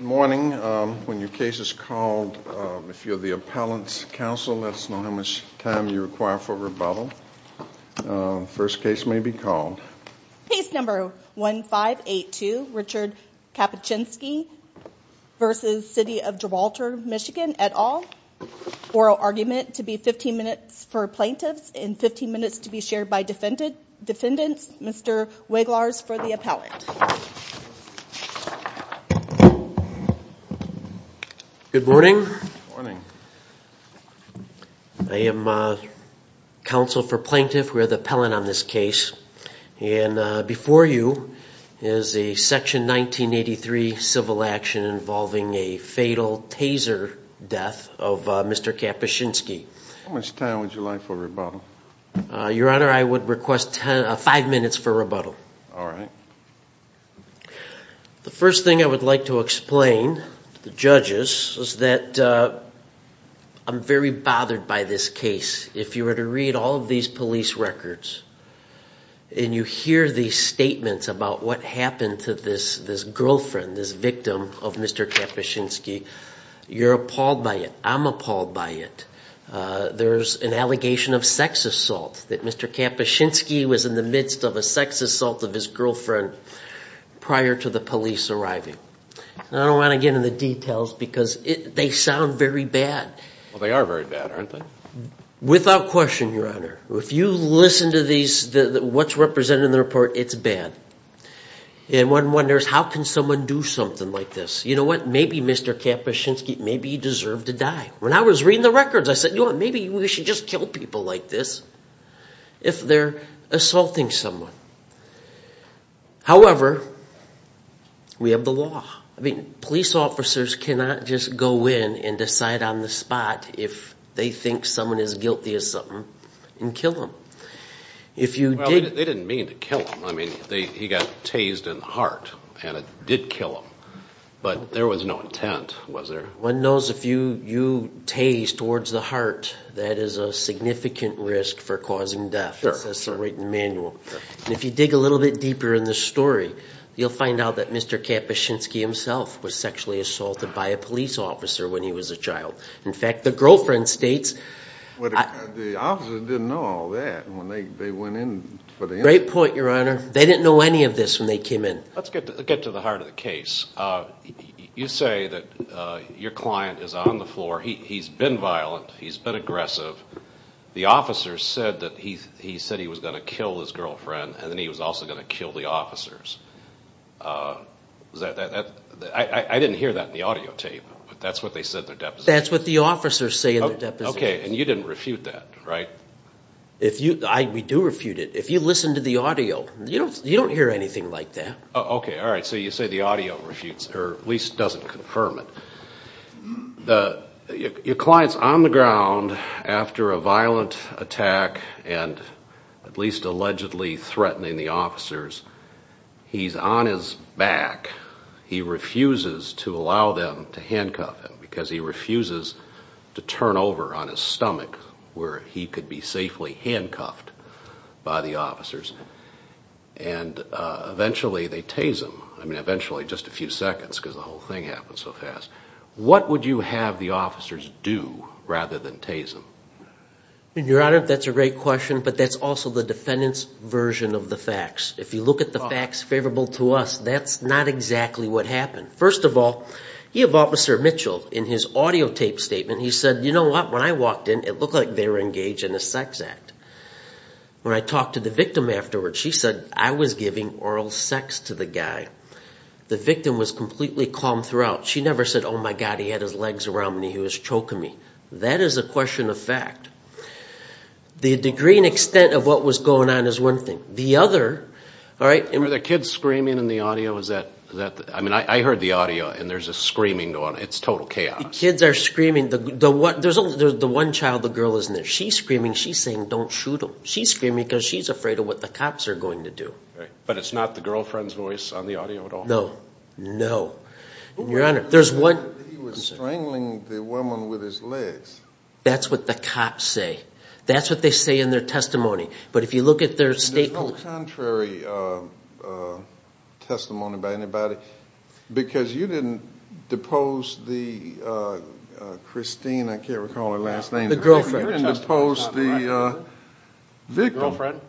Morning. When your case is called, if you're the appellant's counsel, let us know how much time you require for rebuttal. First case may be called. Case number 1582, Richard Kapuscinski v. City of Gibralter, Michigan, et al. Oral argument to be 15 minutes for plaintiffs and 15 minutes to be shared by defendants. Mr. Weglars for the appellant. Good morning. Good morning. I am counsel for plaintiffs. We're the appellant on this case. And before you is a section 1983 civil action involving a fatal taser death of Mr. Kapuscinski. How much time would you like for rebuttal? Your honor, I would The first thing I would like to explain to the judges is that I'm very bothered by this case. If you were to read all of these police records and you hear these statements about what happened to this girlfriend, this victim of Mr. Kapuscinski, you're appalled by it. I'm appalled by it. There's an allegation of sex assault that Mr. Kapuscinski was in the midst of a sex assault of his girlfriend prior to the police arriving. I don't want to get into the details because they sound very bad. They are very bad, aren't they? Without question, your honor. If you listen to these, what's represented in the report, it's bad. And one wonders, how can someone do something like this? You know what, maybe Mr. Kapuscinski, maybe he deserved to die. When I was reading the records, I said, maybe we should just kill people like this if they're assaulting someone. However, we have the law. I mean, police officers cannot just go in and decide on the spot if they think someone is guilty of something and kill them. They didn't mean to kill him. I mean, he got tased in the heart and it did kill him. But there was no intent, was there? One knows if you tase towards the heart, that is a significant risk for causing death. If you dig a little bit deeper in the story, you'll find out that Mr. Kapuscinski himself was sexually assaulted by a police officer when he was a child. In fact, the girlfriend states... The officer didn't know all that when they went in for the interview. Great point, your honor. They didn't know any of this when they came in. Let's get to the heart of the case. You say that your client is on the floor, he's been violent, he's been aggressive. The officer said that he said he was going to kill his girlfriend and then he was also going to kill the officers. I didn't hear that in the audio tape, but that's what they said in their deposition. That's what the officers say in their deposition. Okay, and you didn't refute that, right? We do refute it. If you listen to the audio, you don't hear anything like that. Okay, all right. So you say the audio refutes, or at least doesn't confirm it. Your client's on the ground after a violent attack and at least allegedly threatening the officers. He's on his back. He refuses to allow them to handcuff him because he refuses to turn over on his stomach where he could be safely handcuffed by the officers. Eventually, they tase him. I mean, eventually, just a few seconds because the whole thing happened so fast. What would you have the officers do rather than tase him? Your honor, that's a great question, but that's also the defendant's version of the facts. If you look at the facts favorable to us, that's not exactly what happened. First of all, you have Officer Mitchell in his audio tape statement. He said, you know what? When I walked in, it looked like they were engaged in a sex act. When I talked to the victim afterwards, she said, I was giving oral sex to the guy. The victim was completely calm throughout. She never said, oh my God, he had his legs around me. He was choking me. That is a question of fact. The degree and extent of what was going on is one thing. The other, all right- Were the kids screaming in the audio? I mean, I heard the audio and there's a screaming going on. It's total chaos. Kids are screaming. There's the one child, the girl isn't there. She's screaming. She's saying, don't shoot him. She's screaming because she's afraid of what the cops are going to do. But it's not the girlfriend's voice on the audio at all? No. No. Your honor, there's one- He was strangling the woman with his legs. That's what the cops say. That's what they say in their testimony. But if you look at their state- There's no contrary testimony by anybody because you didn't depose the Christine, I can't recall her last name- The girlfriend. You didn't depose the victim. The girlfriend.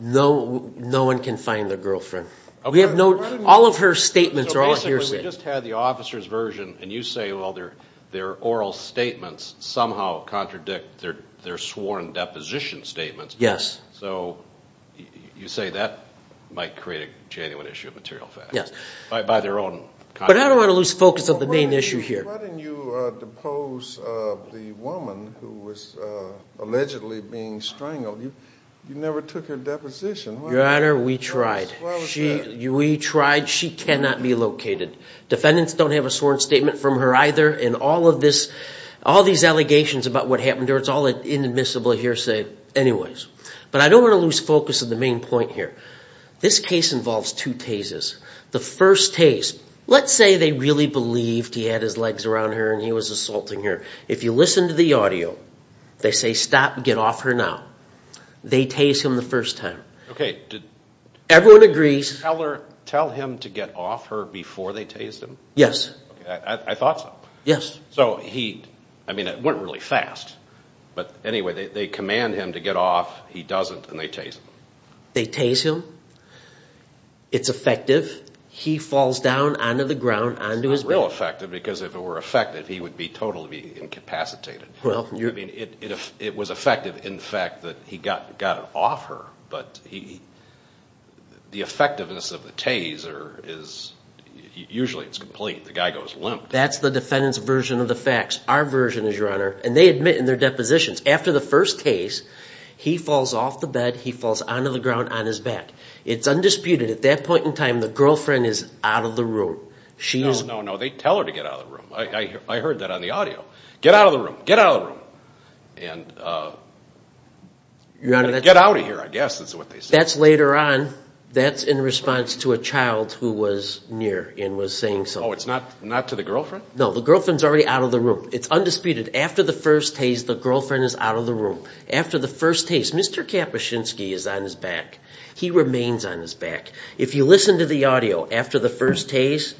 No one can find the girlfriend. We have no- All of her statements are all hearsay. Basically, we just had the officer's version and you say, well, their oral statements somehow contradict their sworn deposition statements. Yes. So you say that might create a genuine issue of material facts by their own- But I don't want to lose focus of the main issue here. Why didn't you depose the woman who was allegedly being strangled? You never took her deposition. Your honor, we tried. Why was that? We tried. She cannot be located. Defendants don't have a sworn statement from her either and all of these allegations about what happened to her, it's all inadmissible hearsay anyways. But I don't want to lose focus of the main point here. This case involves two tases. The first tase, let's say they really believed he had his legs around her and he was assaulting her. If you listen to the audio, they say, stop, get off her now. They tase him the first time. Okay, did- Everyone agrees. Tell him to get off her before they tased him? Yes. I thought so. Yes. So he, I mean it went really fast. But anyway, they command him to get off, he doesn't, and they tase him. They tase him. It's effective. He falls down onto the ground onto his back. It's not real effective because if it were effective, he would be totally incapacitated. It was effective in the fact that he got off her, but the effectiveness of the tase is usually it's complete. The guy goes limp. That's the defendant's version of the facts. Our version is, Your Honor, and they admit in their depositions, after the first tase, he falls off the bed, he falls onto the ground on his back. It's undisputed. At that point in time, the girlfriend is out of the room. She is- No, no, no. They tell her to get out of the room. I heard that on the audio. Get out of the room. Get out of the room. And get out of here, I guess is what they say. That's later on. That's in response to a child who was near and was saying something. Oh, it's not to the girlfriend? No, the girlfriend's already out of the room. It's undisputed. After the first tase, the girlfriend is out of the room. After the first tase, Mr. Kapuscinski is on his back. He remains on his back. If you listen to the audio after the first tase,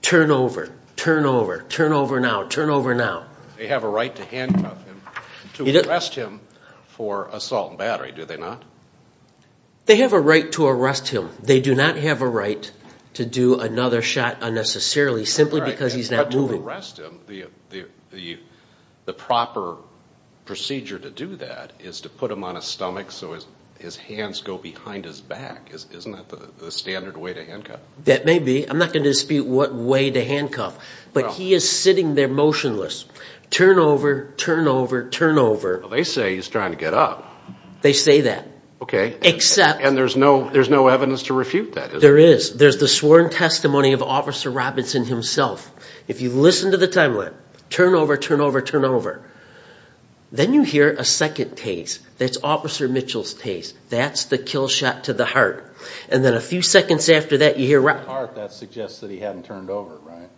turn over. Turn over. Turn over now. Turn over now. They have a right to handcuff him, to arrest him for assault and battery, do they not? They have a right to arrest him. They do not have a right to do another shot unnecessarily simply because he's not moving. Right, but to arrest him, the proper procedure to do that is to put him on his stomach so his hands go behind his back. Isn't that the standard way to handcuff? That may be. I'm not going to dispute what way to handcuff, but he is sitting there motionless. Turn over. Turn over. Turn over. They say he's trying to get up. They say that. Okay. Except... And there's no evidence to refute that, is there? There is. There's the sworn testimony of Officer Robinson himself. If you listen to the timeline, turn over. Turn over. Turn over. Then you hear a second tase. That's Officer Mitchell's That's the kill shot to the heart. And then a few seconds after that, you hear... To the heart, that suggests that he hadn't turned over, right?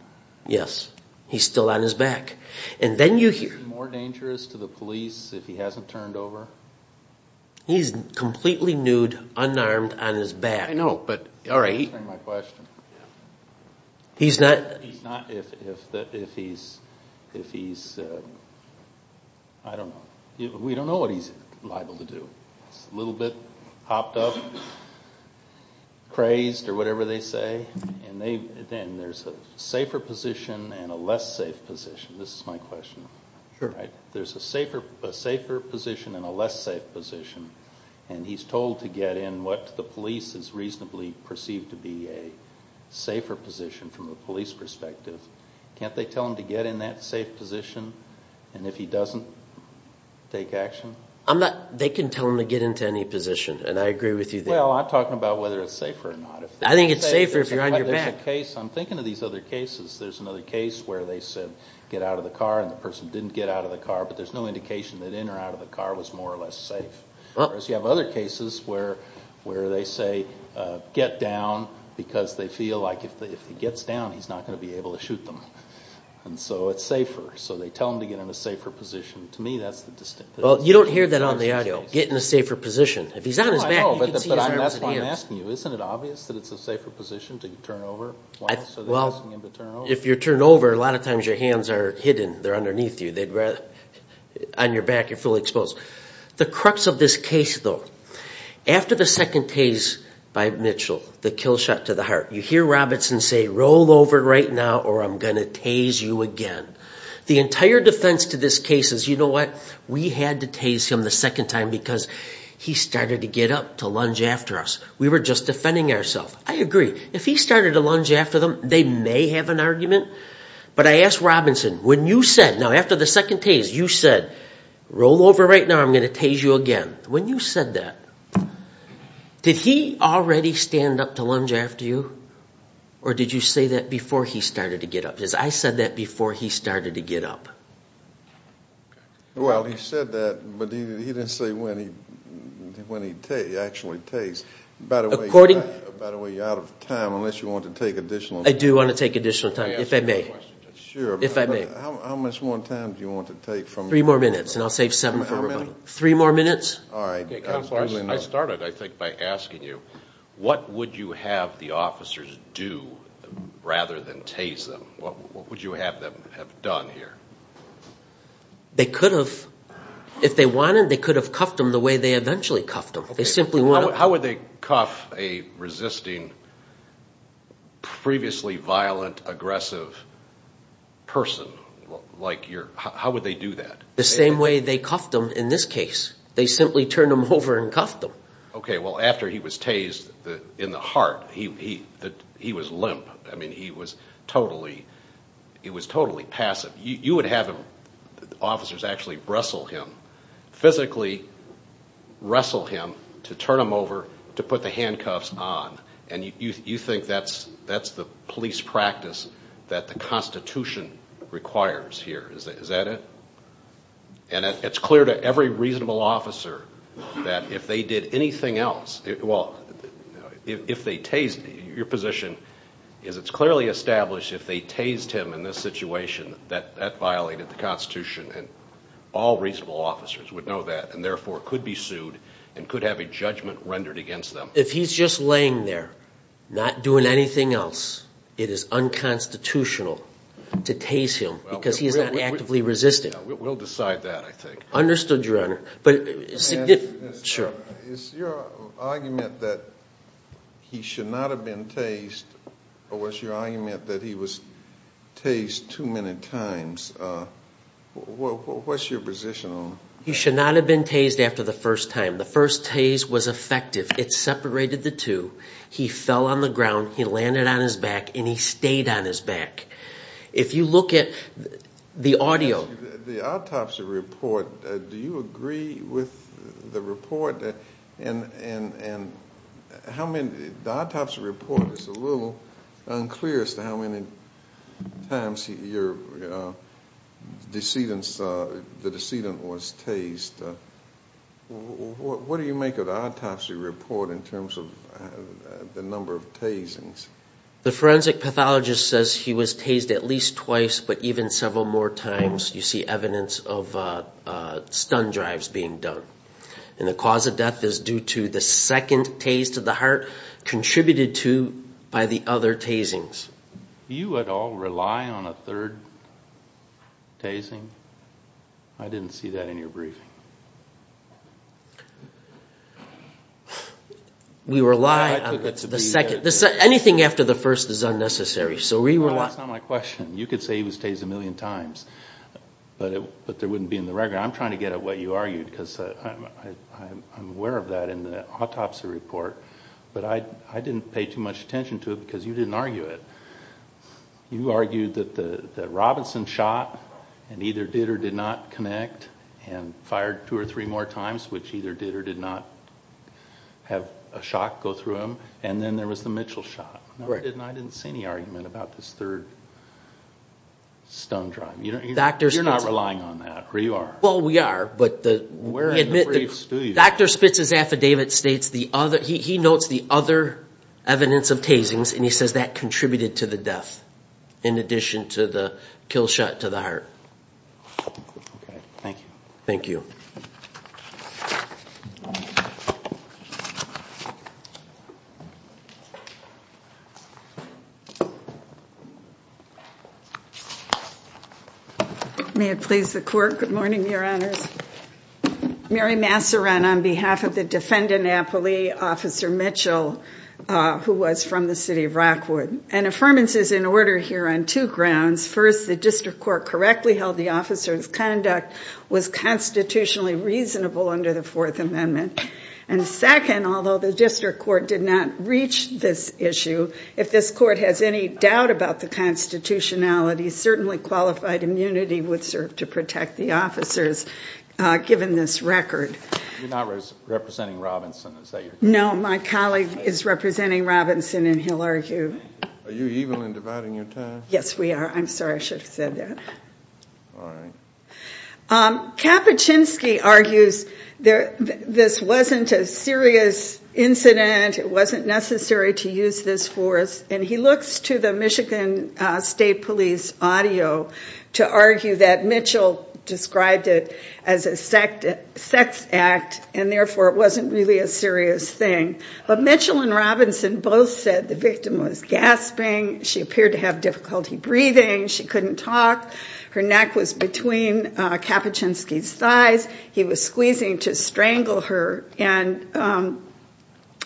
Yes. He's still on his back. And then you hear... Is he more dangerous to the police if he hasn't turned over? He's completely nude, unarmed, on his back. I know, but... Answering my question. He's not... He's not if he's... I don't know. We don't know what he's liable to do. It's a little bit hopped up, crazed, or whatever they say. And there's a safer position and a less safe position. This is my question. Sure. There's a safer position and a less safe position. And he's told to get in what the police has reasonably perceived to be a safer position from a police perspective. Can't they tell him to get in that safe position? And if he doesn't, take action? They can tell him to get into any position, and I agree with you there. Well, I'm talking about whether it's safer or not. I think it's safer if you're on your back. I'm thinking of these other cases. There's another case where they said, get out of the car, and the person didn't get out of the car, but there's no indication that in or out of the car was more or less safe. Whereas you have other cases where they say, get down, because they feel like if he gets down, he's not going to be able to shoot them. And so it's safer. So they tell him to get in a safer position. To me, that's the distinct... Well, you don't hear that on the audio. Get in a safer position. If he's not on his back, you can see his arms and hands. No, I know, but that's why I'm asking you. Isn't it obvious that it's a safer position to turn over? Well, if you turn over, a lot of times your hands are hidden. They're underneath you. On your back, you're fully exposed. The crux of this case, though, after the second tase by Mitchell, the kill shot to the heart, you hear Robinson say, roll over right now or I'm going to tase you again. The entire defense to this case is, you know what? We had to tase him the second time because he started to get up to lunge after us. We were just defending ourselves. I agree. If he started to lunge after them, they may have an argument. But I asked Robinson, when you said, now after the second tase, you said, roll over right now or I'm going to tase you again. When you said that, did he already stand up to lunge after you or did you say that before he started to get up? Because I said that before he started to get up. Well, he said that, but he didn't say when he actually tase. By the way, you're out of time unless you want to take additional time. I do want to take additional time, if I may. Sure. If I may. How much more time do you want to take? Three more minutes and I'll save seven for everybody. Three more minutes? All right. I started, I think, by asking you, what would you have the officers do rather than tase them? What would you have them have done here? They could have, if they wanted, they could have cuffed them the way they eventually cuffed them. How would they cuff a resisting, previously violent, aggressive person? How would they do that? The same way they cuffed them in this case. They simply turned them over and cuffed them. Okay. Well, after he was tased in the heart, he was limp. I mean, he was totally passive. You would have officers actually wrestle him, physically wrestle him to turn him over to put the handcuffs on. You think that's the police practice that the Constitution requires here. Is that it? And it's clear to every reasonable officer that if they did anything else, well, if they tased him, your position is it's clearly established if they tased him in this situation that that violated the Constitution and all reasonable officers would know that and therefore could be sued and could have a judgment rendered against them. If he's just laying there, not doing anything else, it is unconstitutional to tase him because he is not actively resisting. We'll decide that, I think. Understood, Your Honor. Is your argument that he should not have been tased or was your argument that he was tased too many times, what's your position on that? He should not have been tased after the first time. The first tase was effective. It separated the two. He fell on the ground, he landed on his back, and he stayed on his back. If you look at the audio. The autopsy report, do you agree with the report? The autopsy report is a little unclear as to how many times the decedent was tased. What do you make of the autopsy report in terms of the number of tasings? The forensic pathologist says he was tased at least twice but even several more times. You see evidence of stun drives being done. The cause of death is due to the second tase to the heart contributed to by the other tasings. You at all rely on a third tasing? I didn't see that in your briefing. We rely on the second. Anything after the first is unnecessary. That's not my question. You could say he was tased a million times but there wouldn't be in the record. I'm trying to get at what you argued because I'm aware of that in the autopsy report. But I didn't pay too much attention to it because you didn't argue it. You argued that the Robinson shot and either did or did not connect and fired two or three more times which either did or did not have a shock go through him. And then there was the Mitchell shot. I didn't see any argument about this third stun drive. You're not relying on that, or you are? Well, we are. Dr. Spitz's affidavit states he notes the other evidence of tasings and he says that contributed to the death in addition to the kill shot to the heart. Thank you. May it please the court. Good morning, Your Honors. Mary Massaran on behalf of the defendant, Apolli, Officer Mitchell, who was from the city of Rockwood. An affirmance is in order here on two grounds. First, the district court correctly held the officer's conduct was constitutionally prohibited. And second, although the district court did not reach this issue, if this court has any doubt about the constitutionality, certainly qualified immunity would serve to protect the officers given this record. You're not representing Robinson, is that your question? No, my colleague is representing Robinson and he'll argue. Are you evil in dividing your time? Yes, we are. I'm sorry I should have said that. All right. Kapuscinski argues this wasn't a serious incident. It wasn't necessary to use this force. And he looks to the Michigan State Police audio to argue that Mitchell described it as a sex act and therefore it wasn't really a serious thing. But Mitchell and Robinson both said the victim was gasping. She appeared to have difficulty breathing. She couldn't talk. Her neck was between Kapuscinski's thighs. He was squeezing to strangle her. And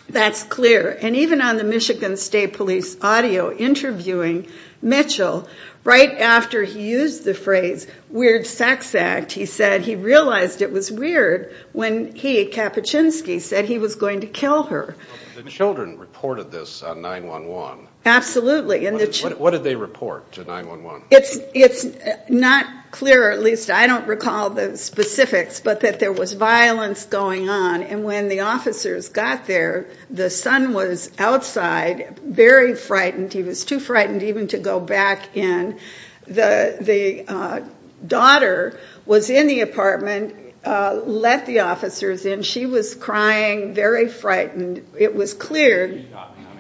that's clear. And even on the Michigan State Police audio interviewing Mitchell, right after he used the phrase weird sex act, he said he realized it was weird when he, Kapuscinski, said he was going to kill her. The children reported this on 911. Absolutely. What did they report to 911? It's not clear, at least I don't recall the specifics, but that there was violence going on. And when the officers got there, the son was outside, very frightened. He was too frightened even to go back in. The daughter was in the apartment, let the officers in. She was crying, very frightened. It was clear.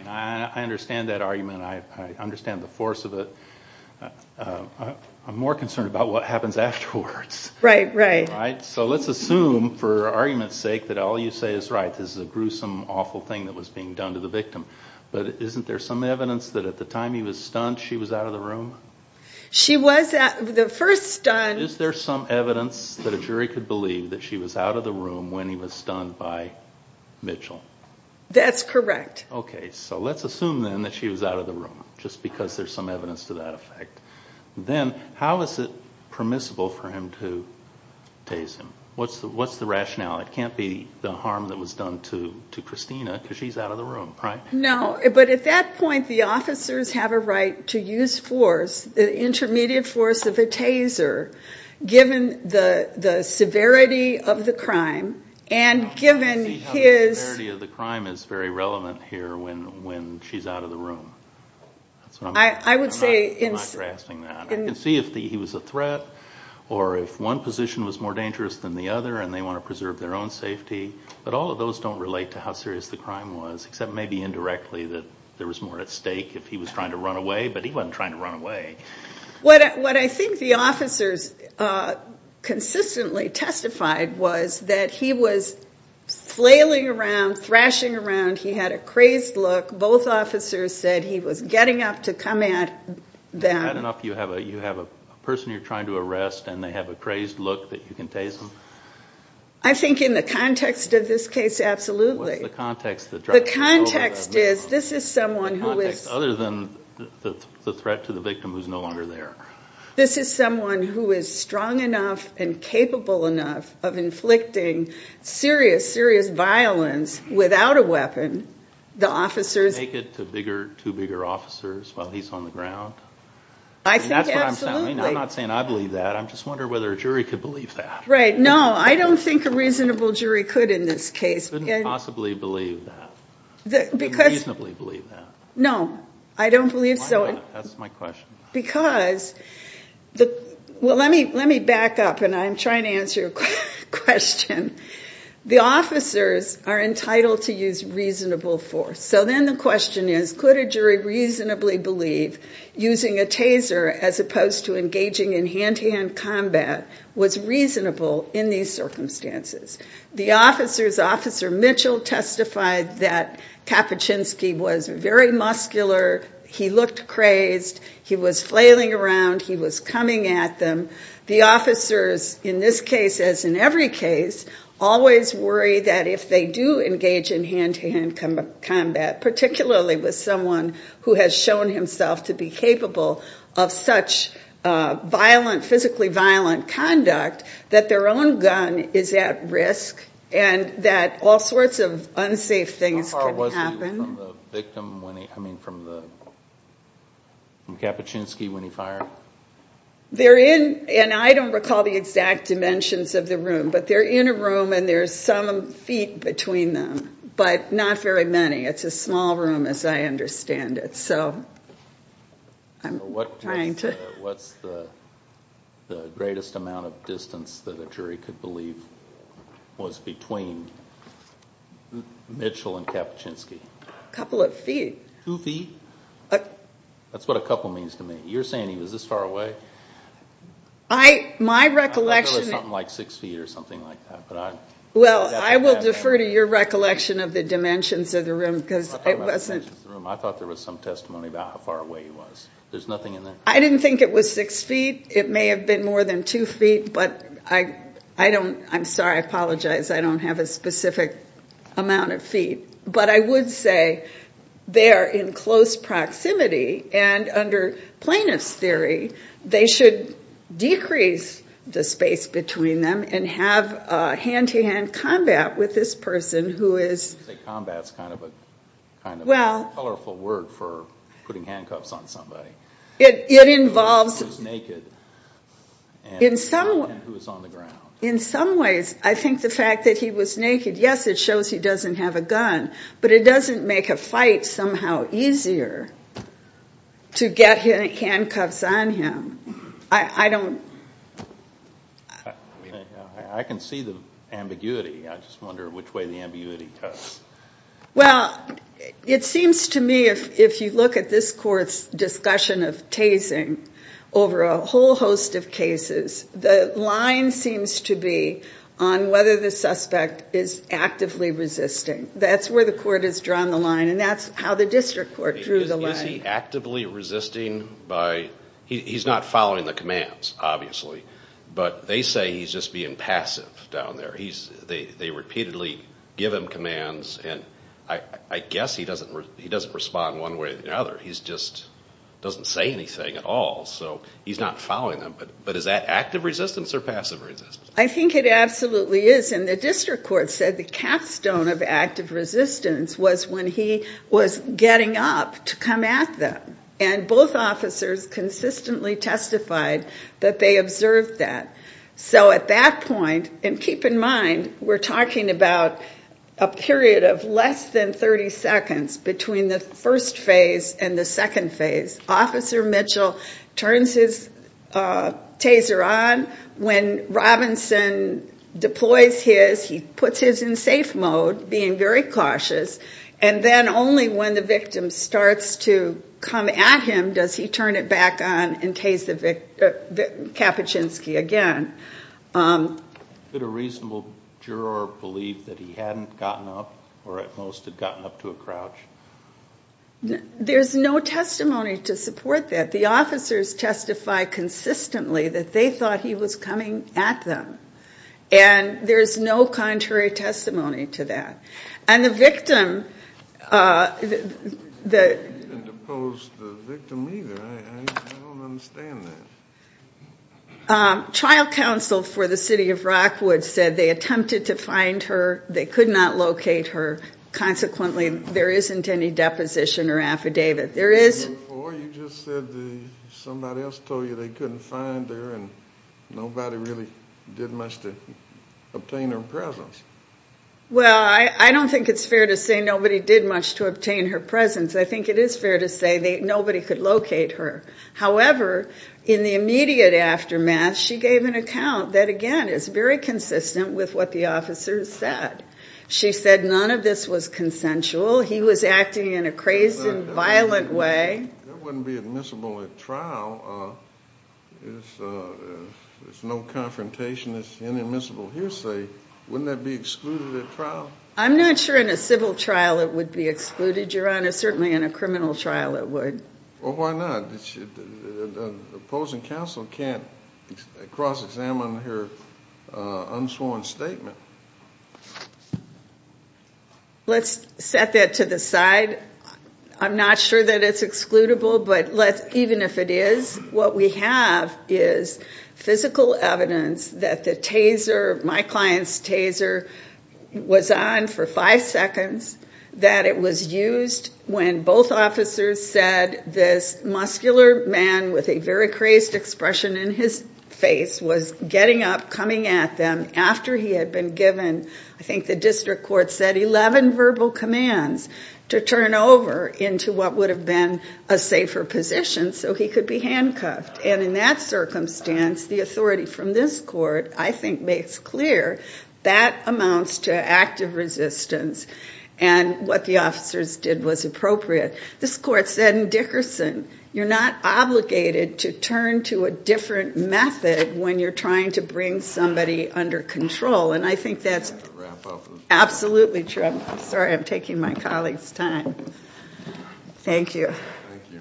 I understand that argument. I understand the force of it. I'm more concerned about what happens afterwards. Right, right. So let's assume, for argument's sake, that all you say is right. This is a gruesome, awful thing that was being done to the victim. But isn't there some evidence that at the time he was stunned, she was out of the room? She was the first stunned. Is there some evidence that a jury could believe that she was out of the room when he was stunned by Mitchell? That's correct. Okay, so let's assume then that she was out of the room, just because there's some evidence to that effect. Then how is it permissible for him to tase him? What's the rationale? It can't be the harm that was done to Christina because she's out of the room, right? No, but at that point the officers have a right to use force, the intermediate force of a taser, given the severity of the crime and given his... The severity of the crime is very relevant here when she's out of the room. I would say... I'm not grasping that. I can see if he was a threat or if one position was more dangerous than the other and they want to preserve their own safety. But all of those don't relate to how serious the crime was, except maybe indirectly that there was more at stake if he was trying to run away, but he wasn't trying to run away. What I think the officers consistently testified was that he was flailing around, thrashing around. He had a crazed look. Both officers said he was getting up to come at them. Is that enough? You have a person you're trying to arrest and they have a crazed look that you can tase them? I think in the context of this case, absolutely. What is the context? The context is this is someone who is... This is someone who is strong enough and capable enough of inflicting serious, serious violence without a weapon. The officers... Naked to bigger, two bigger officers while he's on the ground? I think absolutely. I'm not saying I believe that. I'm just wondering whether a jury could believe that. Right. No, I don't think a reasonable jury could in this case. Couldn't possibly believe that. Couldn't reasonably believe that. No. I don't believe so. That's my question. Because... Well, let me back up and I'm trying to answer your question. The officers are entitled to use reasonable force. So then the question is could a jury reasonably believe using a taser as opposed to engaging in hand-to-hand combat was reasonable in these circumstances? The officer's officer, Mitchell, testified that Kapuscinski was very muscular. He looked crazed. He was flailing around. He was coming at them. The officers in this case, as in every case, always worry that if they do engage in hand-to-hand combat, particularly with someone who has shown himself to be capable of such violent, physically violent conduct, that their own gun is at risk and that all sorts of unsafe things can happen. Was Kapuscinski from the victim when he, I mean from the, from Kapuscinski when he fired? They're in, and I don't recall the exact dimensions of the room, but they're in a room and there's some feet between them, but not very many. It's a small room as I understand it, so I'm trying to... The greatest amount of distance that a jury could believe was between Mitchell and Kapuscinski? A couple of feet. Two feet? That's what a couple means to me. You're saying he was this far away? I, my recollection... I thought there was something like six feet or something like that, but I... Well, I will defer to your recollection of the dimensions of the room because it wasn't... I thought there was some testimony about how far away he was. There's nothing in there? I didn't think it was six feet. It may have been more than two feet, but I don't, I'm sorry, I apologize. I don't have a specific amount of feet. But I would say they are in close proximity, and under plaintiff's theory they should decrease the space between them and have a hand-to-hand combat with this person who is... You say combat's kind of a colorful word for putting handcuffs on somebody. It involves... In some... And who is on the ground. In some ways. I think the fact that he was naked, yes, it shows he doesn't have a gun, but it doesn't make a fight somehow easier to get handcuffs on him. I don't... I can see the ambiguity. I just wonder which way the ambiguity goes. Well, it seems to me if you look at this court's discussion of tasing over a whole host of cases, the line seems to be on whether the suspect is actively resisting. That's where the court has drawn the line, and that's how the district court drew the line. Is he actively resisting by... He's not following the commands, obviously, but they say he's just being passive down there. They repeatedly give him commands, and I guess he doesn't respond one way or the other. He just doesn't say anything at all, so he's not following them. But is that active resistance or passive resistance? I think it absolutely is, and the district court said the capstone of active resistance was when he was getting up to come at them, and both officers consistently testified that they observed that. So at that point, and keep in mind, we're talking about a period of less than 30 seconds between the first phase and the second phase. Officer Mitchell turns his taser on. When Robinson deploys his, he puts his in safe mode, being very cautious, and then only when the victim starts to come at him does he turn it back on and tase the Kapuscinski again. Could a reasonable juror believe that he hadn't gotten up or at most had gotten up to a crouch? There's no testimony to support that. The officers testify consistently that they thought he was coming at them, and there's no contrary testimony to that. And the victim, the child counsel for the city of Rockwood said they attempted to find her. They could not locate her. Consequently, there isn't any deposition or affidavit. Or you just said somebody else told you they couldn't find her and nobody really did much to obtain her presence. Well, I don't think it's fair to say nobody did much to obtain her presence. I think it is fair to say nobody could locate her. It is very consistent with what the officer said. She said none of this was consensual. He was acting in a crazed and violent way. That wouldn't be admissible at trial. There's no confrontation. It's an immiscible hearsay. Wouldn't that be excluded at trial? I'm not sure in a civil trial it would be excluded, Your Honor. Certainly in a criminal trial it would. Well, why not? The opposing counsel can't cross-examine her unsworn statement. Let's set that to the side. I'm not sure that it's excludable, but even if it is, what we have is physical evidence that the taser, my client's taser, was on for five seconds, that it was used when both officers said this muscular man with a very crazed expression in his face was getting up, coming at them after he had been given, I think the district court said, 11 verbal commands to turn over into what would have been a safer position so he could be handcuffed. And in that circumstance, the authority from this court, I think, makes clear that amounts to active resistance, and what the officers did was appropriate. This court said in Dickerson you're not obligated to turn to a different method when you're trying to bring somebody under control, and I think that's absolutely true. I'm sorry I'm taking my colleagues' time. Thank you. Thank you.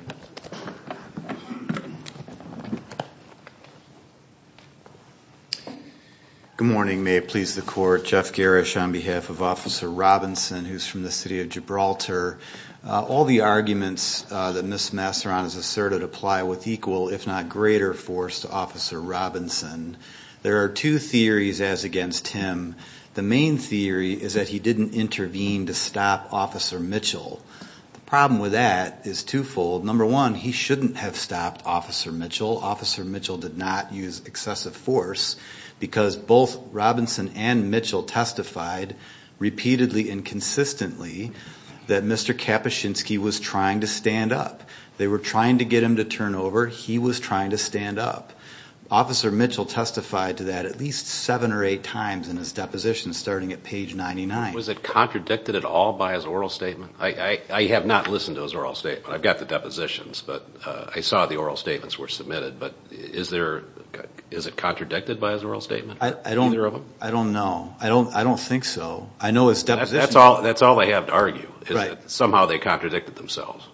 Good morning. May it please the court. Jeff Garish on behalf of Officer Robinson, who's from the city of Gibraltar. All the arguments that Ms. Masseron has asserted apply with equal, if not greater, force to Officer Robinson. There are two theories as against him. The main theory is that he didn't intervene to stop Officer Mitchell. The problem with that is twofold. Number one, he shouldn't have stopped Officer Mitchell. Officer Mitchell did not use excessive force because both Robinson and Mitchell testified repeatedly and consistently that Mr. Kapuscinski was trying to stand up. They were trying to get him to turn over. He was trying to stand up. Officer Mitchell testified to that at least seven or eight times in his deposition starting at page 99. Was it contradicted at all by his oral statement? I have not listened to his oral statement. I've got the depositions, but I saw the oral statements were submitted, but is it contradicted by his oral statement? I don't know. I don't know. I don't think so. I know his deposition. That's all I have to argue is that somehow they contradicted themselves.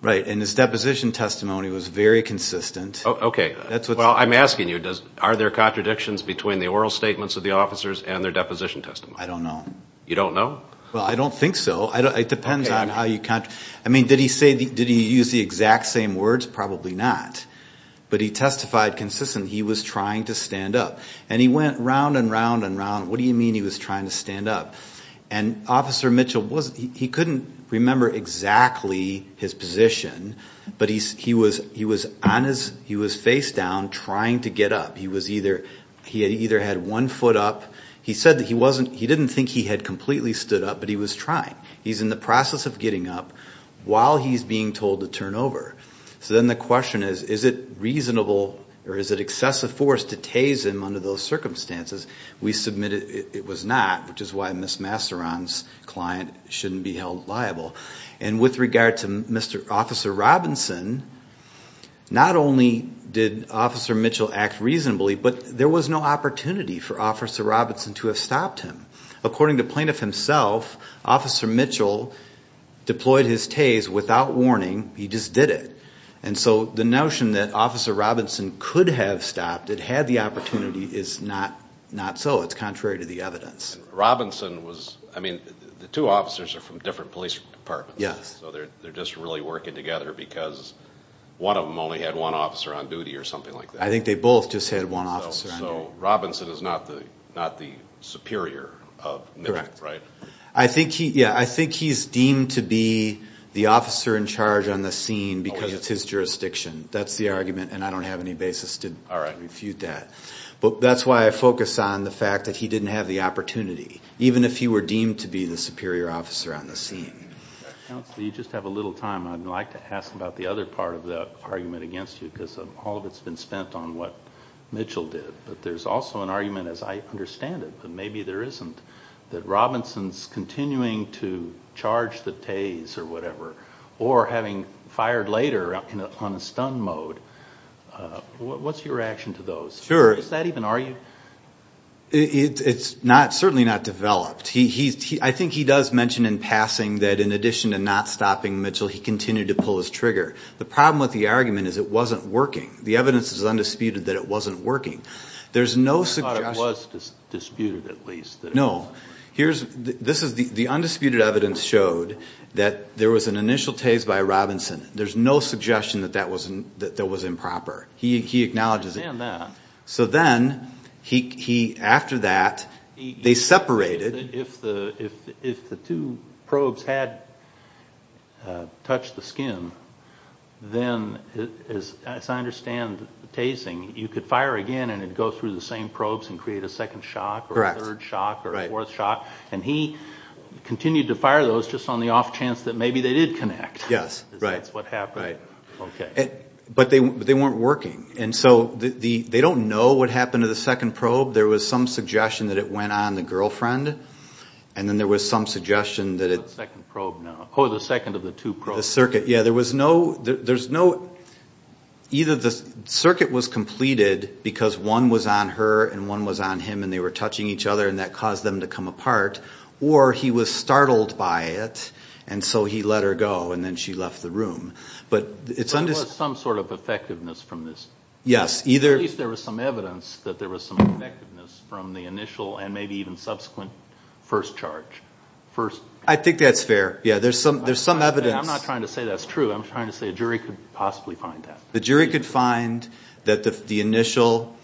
Right, and his deposition testimony was very consistent. Okay. Well, I'm asking you, are there contradictions between the oral statements of the officers and their deposition testimony? I don't know. You don't know? Well, I don't think so. It depends on how you count. I mean, did he use the exact same words? Probably not. But he testified consistently he was trying to stand up. And he went round and round and round. What do you mean he was trying to stand up? And Officer Mitchell, he couldn't remember exactly his position, but he was face down trying to get up. He either had one foot up. He said that he didn't think he had completely stood up, but he was trying. He's in the process of getting up while he's being told to turn over. So then the question is, is it reasonable or is it excessive force to tase him under those circumstances? We submitted it was not, which is why Ms. Masteron's client shouldn't be held liable. And with regard to Officer Robinson, not only did Officer Mitchell act reasonably, but there was no opportunity for Officer Robinson to have stopped him. According to Plaintiff himself, Officer Mitchell deployed his tase without warning. He just did it. And so the notion that Officer Robinson could have stopped it, had the opportunity, is not so. It's contrary to the evidence. Robinson was, I mean, the two officers are from different police departments. Yes. So they're just really working together because one of them only had one officer on duty or something like that. I think they both just had one officer on duty. So Robinson is not the superior of Mitchell, right? Correct. I think he's deemed to be the officer in charge on the scene because it's his jurisdiction. That's the argument, and I don't have any basis to refute that. But that's why I focus on the fact that he didn't have the opportunity, even if he were deemed to be the superior officer on the scene. Counsel, you just have a little time. I'd like to ask about the other part of the argument against you because all of it's been spent on what Mitchell did. But there's also an argument, as I understand it, but maybe there isn't, that Robinson's continuing to charge the tase or whatever, or having fired later on a stun mode. What's your reaction to those? Sure. Does that even argue? It's certainly not developed. I think he does mention in passing that in addition to not stopping Mitchell, he continued to pull his trigger. The problem with the argument is it wasn't working. The evidence is undisputed that it wasn't working. I thought it was disputed, at least. No. The undisputed evidence showed that there was an initial tase by Robinson. There's no suggestion that that was improper. He acknowledges it. I understand that. So then, after that, they separated. If the two probes had touched the skin, then, as I understand the tasing, you could fire again and it would go through the same probes and create a second shock or a third shock or a fourth shock, and he continued to fire those just on the off chance that maybe they did connect. Yes, right. That's what happened. Right. Okay. But they weren't working. So they don't know what happened to the second probe. There was some suggestion that it went on the girlfriend, and then there was some suggestion that it was the circuit. Either the circuit was completed because one was on her and one was on him and they were touching each other and that caused them to come apart, or he was startled by it and so he let her go and then she left the room. But there was some sort of effectiveness from this. Yes. At least there was some evidence that there was some effectiveness from the initial and maybe even subsequent first charge. I think that's fair. Yeah, there's some evidence. I'm not trying to say that's true. I'm trying to say a jury could possibly find that. The jury could find that the initial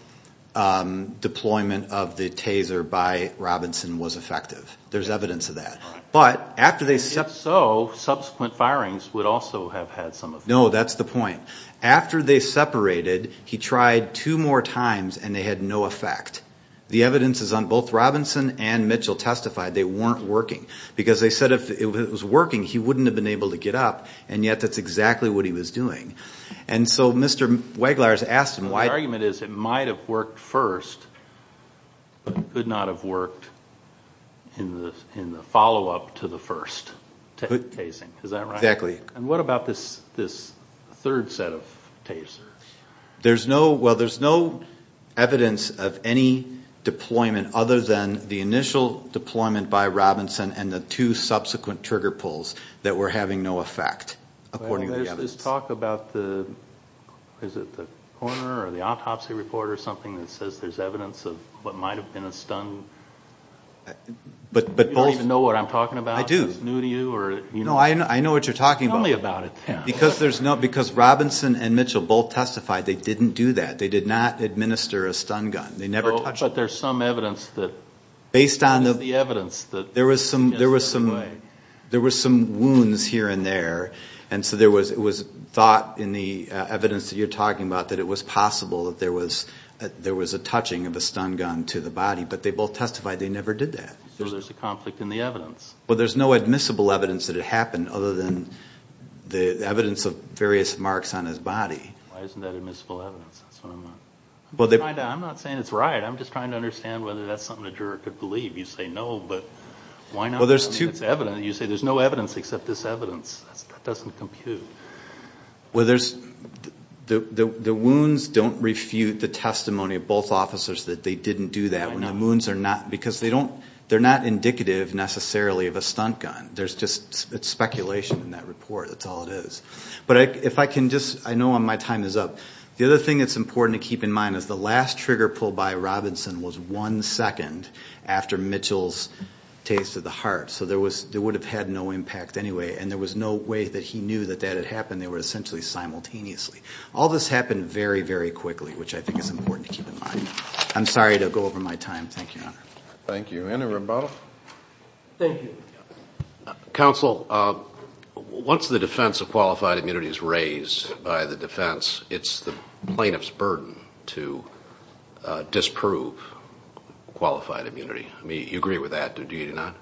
deployment of the taser by Robinson was effective. There's evidence of that. Right. If so, subsequent firings would also have had some effect. No, that's the point. After they separated, he tried two more times and they had no effect. The evidence is on both Robinson and Mitchell testified they weren't working because they said if it was working he wouldn't have been able to get up, and yet that's exactly what he was doing. And so Mr. Weglarz asked him why. The argument is it might have worked first, but it could not have worked in the follow-up to the first tasing. Is that right? Exactly. And what about this third set of tasers? Well, there's no evidence of any deployment other than the initial deployment by Robinson and the two subsequent trigger pulls that were having no effect, according to the evidence. Did you just talk about the coroner or the autopsy report or something that says there's evidence of what might have been a stun? You don't even know what I'm talking about. I do. Is this new to you? No, I know what you're talking about. Tell me about it then. Because Robinson and Mitchell both testified they didn't do that. They did not administer a stun gun. They never touched it. No, but there's some evidence. There was some wounds here and there, and so it was thought in the evidence that you're talking about that it was possible that there was a touching of a stun gun to the body, but they both testified they never did that. So there's a conflict in the evidence. Well, there's no admissible evidence that it happened other than the evidence of various marks on his body. Why isn't that admissible evidence? I'm not saying it's right. I'm just trying to understand whether that's something a juror could believe. You say no, but why not? You say there's no evidence except this evidence. That doesn't compute. Well, the wounds don't refute the testimony of both officers that they didn't do that. Because they're not indicative necessarily of a stun gun. It's speculation in that report. That's all it is. But I know my time is up. The other thing that's important to keep in mind is the last trigger pull by Robinson was one second after Mitchell's taste of the heart. So there would have had no impact anyway, and there was no way that he knew that that had happened. They were essentially simultaneously. All this happened very, very quickly, which I think is important to keep in mind. I'm sorry to go over my time. Thank you, Your Honor. Thank you. Andrew Rimbaud? Thank you. Counsel, once the defense of qualified immunity is raised by the defense, it's the plaintiff's burden to disprove qualified immunity. I mean, you agree with that, do you not?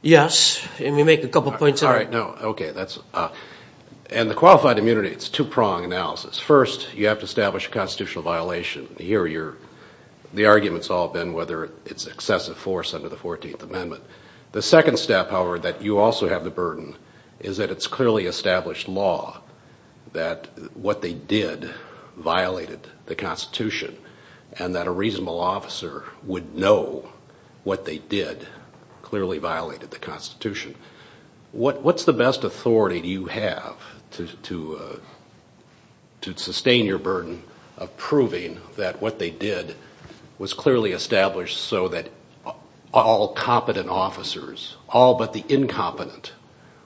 Yes. Let me make a couple points. All right. No. Okay. And the qualified immunity, it's a two-prong analysis. First, you have to establish a constitutional violation. The argument's all been whether it's excessive force under the 14th Amendment. The second step, however, that you also have the burden is that it's clearly established law that what they did violated the Constitution and that a reasonable officer would know what they did clearly violated the Constitution. What's the best authority you have to sustain your burden of proving that what they did was clearly established so that all competent officers, all but the incompetent,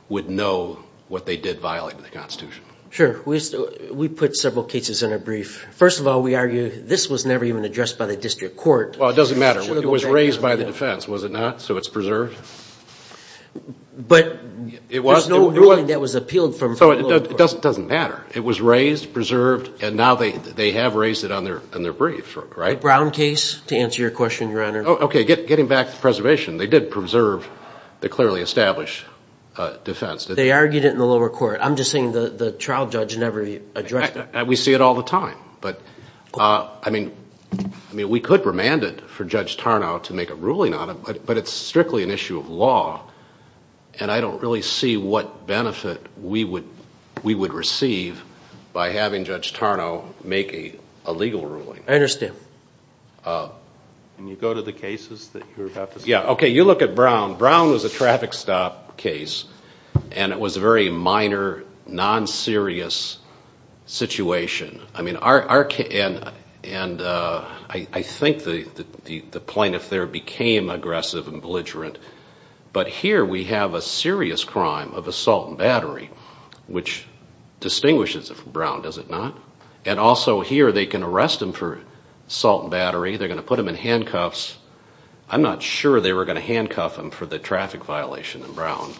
would know what they did violate in the Constitution? Sure. We put several cases in a brief. First of all, we argue this was never even addressed by the district court. Well, it doesn't matter. It was raised by the defense, was it not? So it's preserved? But there's no ruling that was appealed from federal law. So it doesn't matter. It was raised, preserved, and now they have raised it on their brief, right? The Brown case, to answer your question, Your Honor. Okay. Getting back to preservation. They did preserve the clearly established defense. They argued it in the lower court. I'm just saying the trial judge never addressed it. We see it all the time. But, I mean, we could remand it for Judge Tarnow to make a ruling on it, but it's strictly an issue of law, and I don't really see what benefit we would receive by having Judge Tarnow make a legal ruling. Can you go to the cases that you're about to see? Yeah, okay. You look at Brown. Brown was a traffic stop case, and it was a very minor, non-serious situation. I mean, our case, and I think the plaintiff there became aggressive and belligerent, but here we have a serious crime of assault and battery, which distinguishes it from Brown, does it not? And also here they can arrest him for assault and battery. They're going to put him in handcuffs. I'm not sure they were going to handcuff him for the traffic violation in Brown.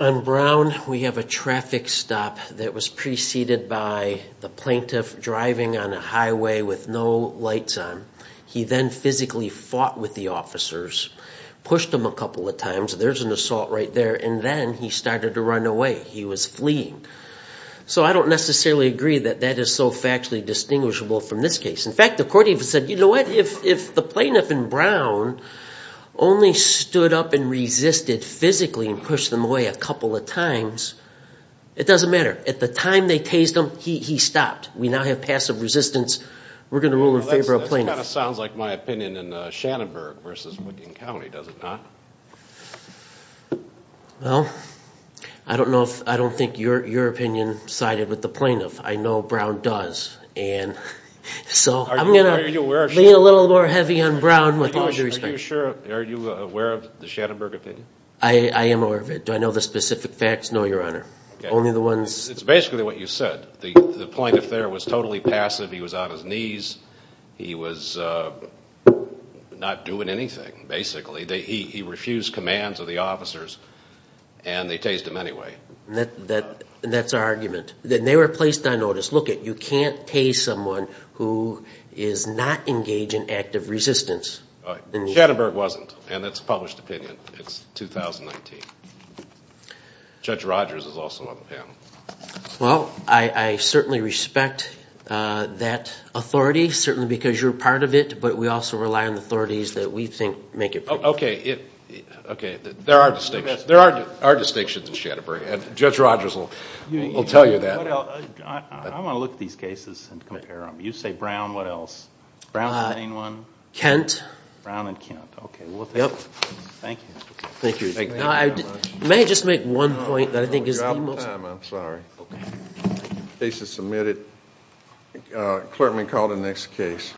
On Brown, we have a traffic stop that was preceded by the plaintiff driving on a highway with no lights on. He then physically fought with the officers, pushed them a couple of times. There's an assault right there, and then he started to run away. He was fleeing. So I don't necessarily agree that that is so factually distinguishable from this case. In fact, the court even said, you know what, if the plaintiff in Brown only stood up and resisted physically and pushed them away a couple of times, it doesn't matter. At the time they tased him, he stopped. We now have passive resistance. We're going to rule in favor of plaintiffs. That kind of sounds like my opinion in Shannonburg versus Wiggin County, does it not? Well, I don't know if I don't think your opinion sided with the plaintiff. I know Brown does. So I'm going to lean a little more heavy on Brown with all due respect. Are you aware of the Shannonburg opinion? I am aware of it. Do I know the specific facts? No, Your Honor. It's basically what you said. The plaintiff there was totally passive. He was on his knees. He was not doing anything, basically. He refused commands of the officers, and they tased him anyway. That's our argument. Then they were placed on notice. Lookit, you can't tase someone who is not engaged in active resistance. Shannonburg wasn't, and that's a published opinion. It's 2019. Judge Rogers is also on the panel. Well, I certainly respect that authority, certainly because you're a part of it, but we also rely on the authorities that we think make it. Okay, there are distinctions in Shannonburg, and Judge Rogers will tell you that. I want to look at these cases and compare them. You say Brown, what else? Brown's the main one. Kent. Brown and Kent. Okay, well, thank you. Thank you. Thank you very much. May I just make one point that I think is the most... No, you're out of time. I'm sorry. Okay. Case is submitted. Clerk may call the next case.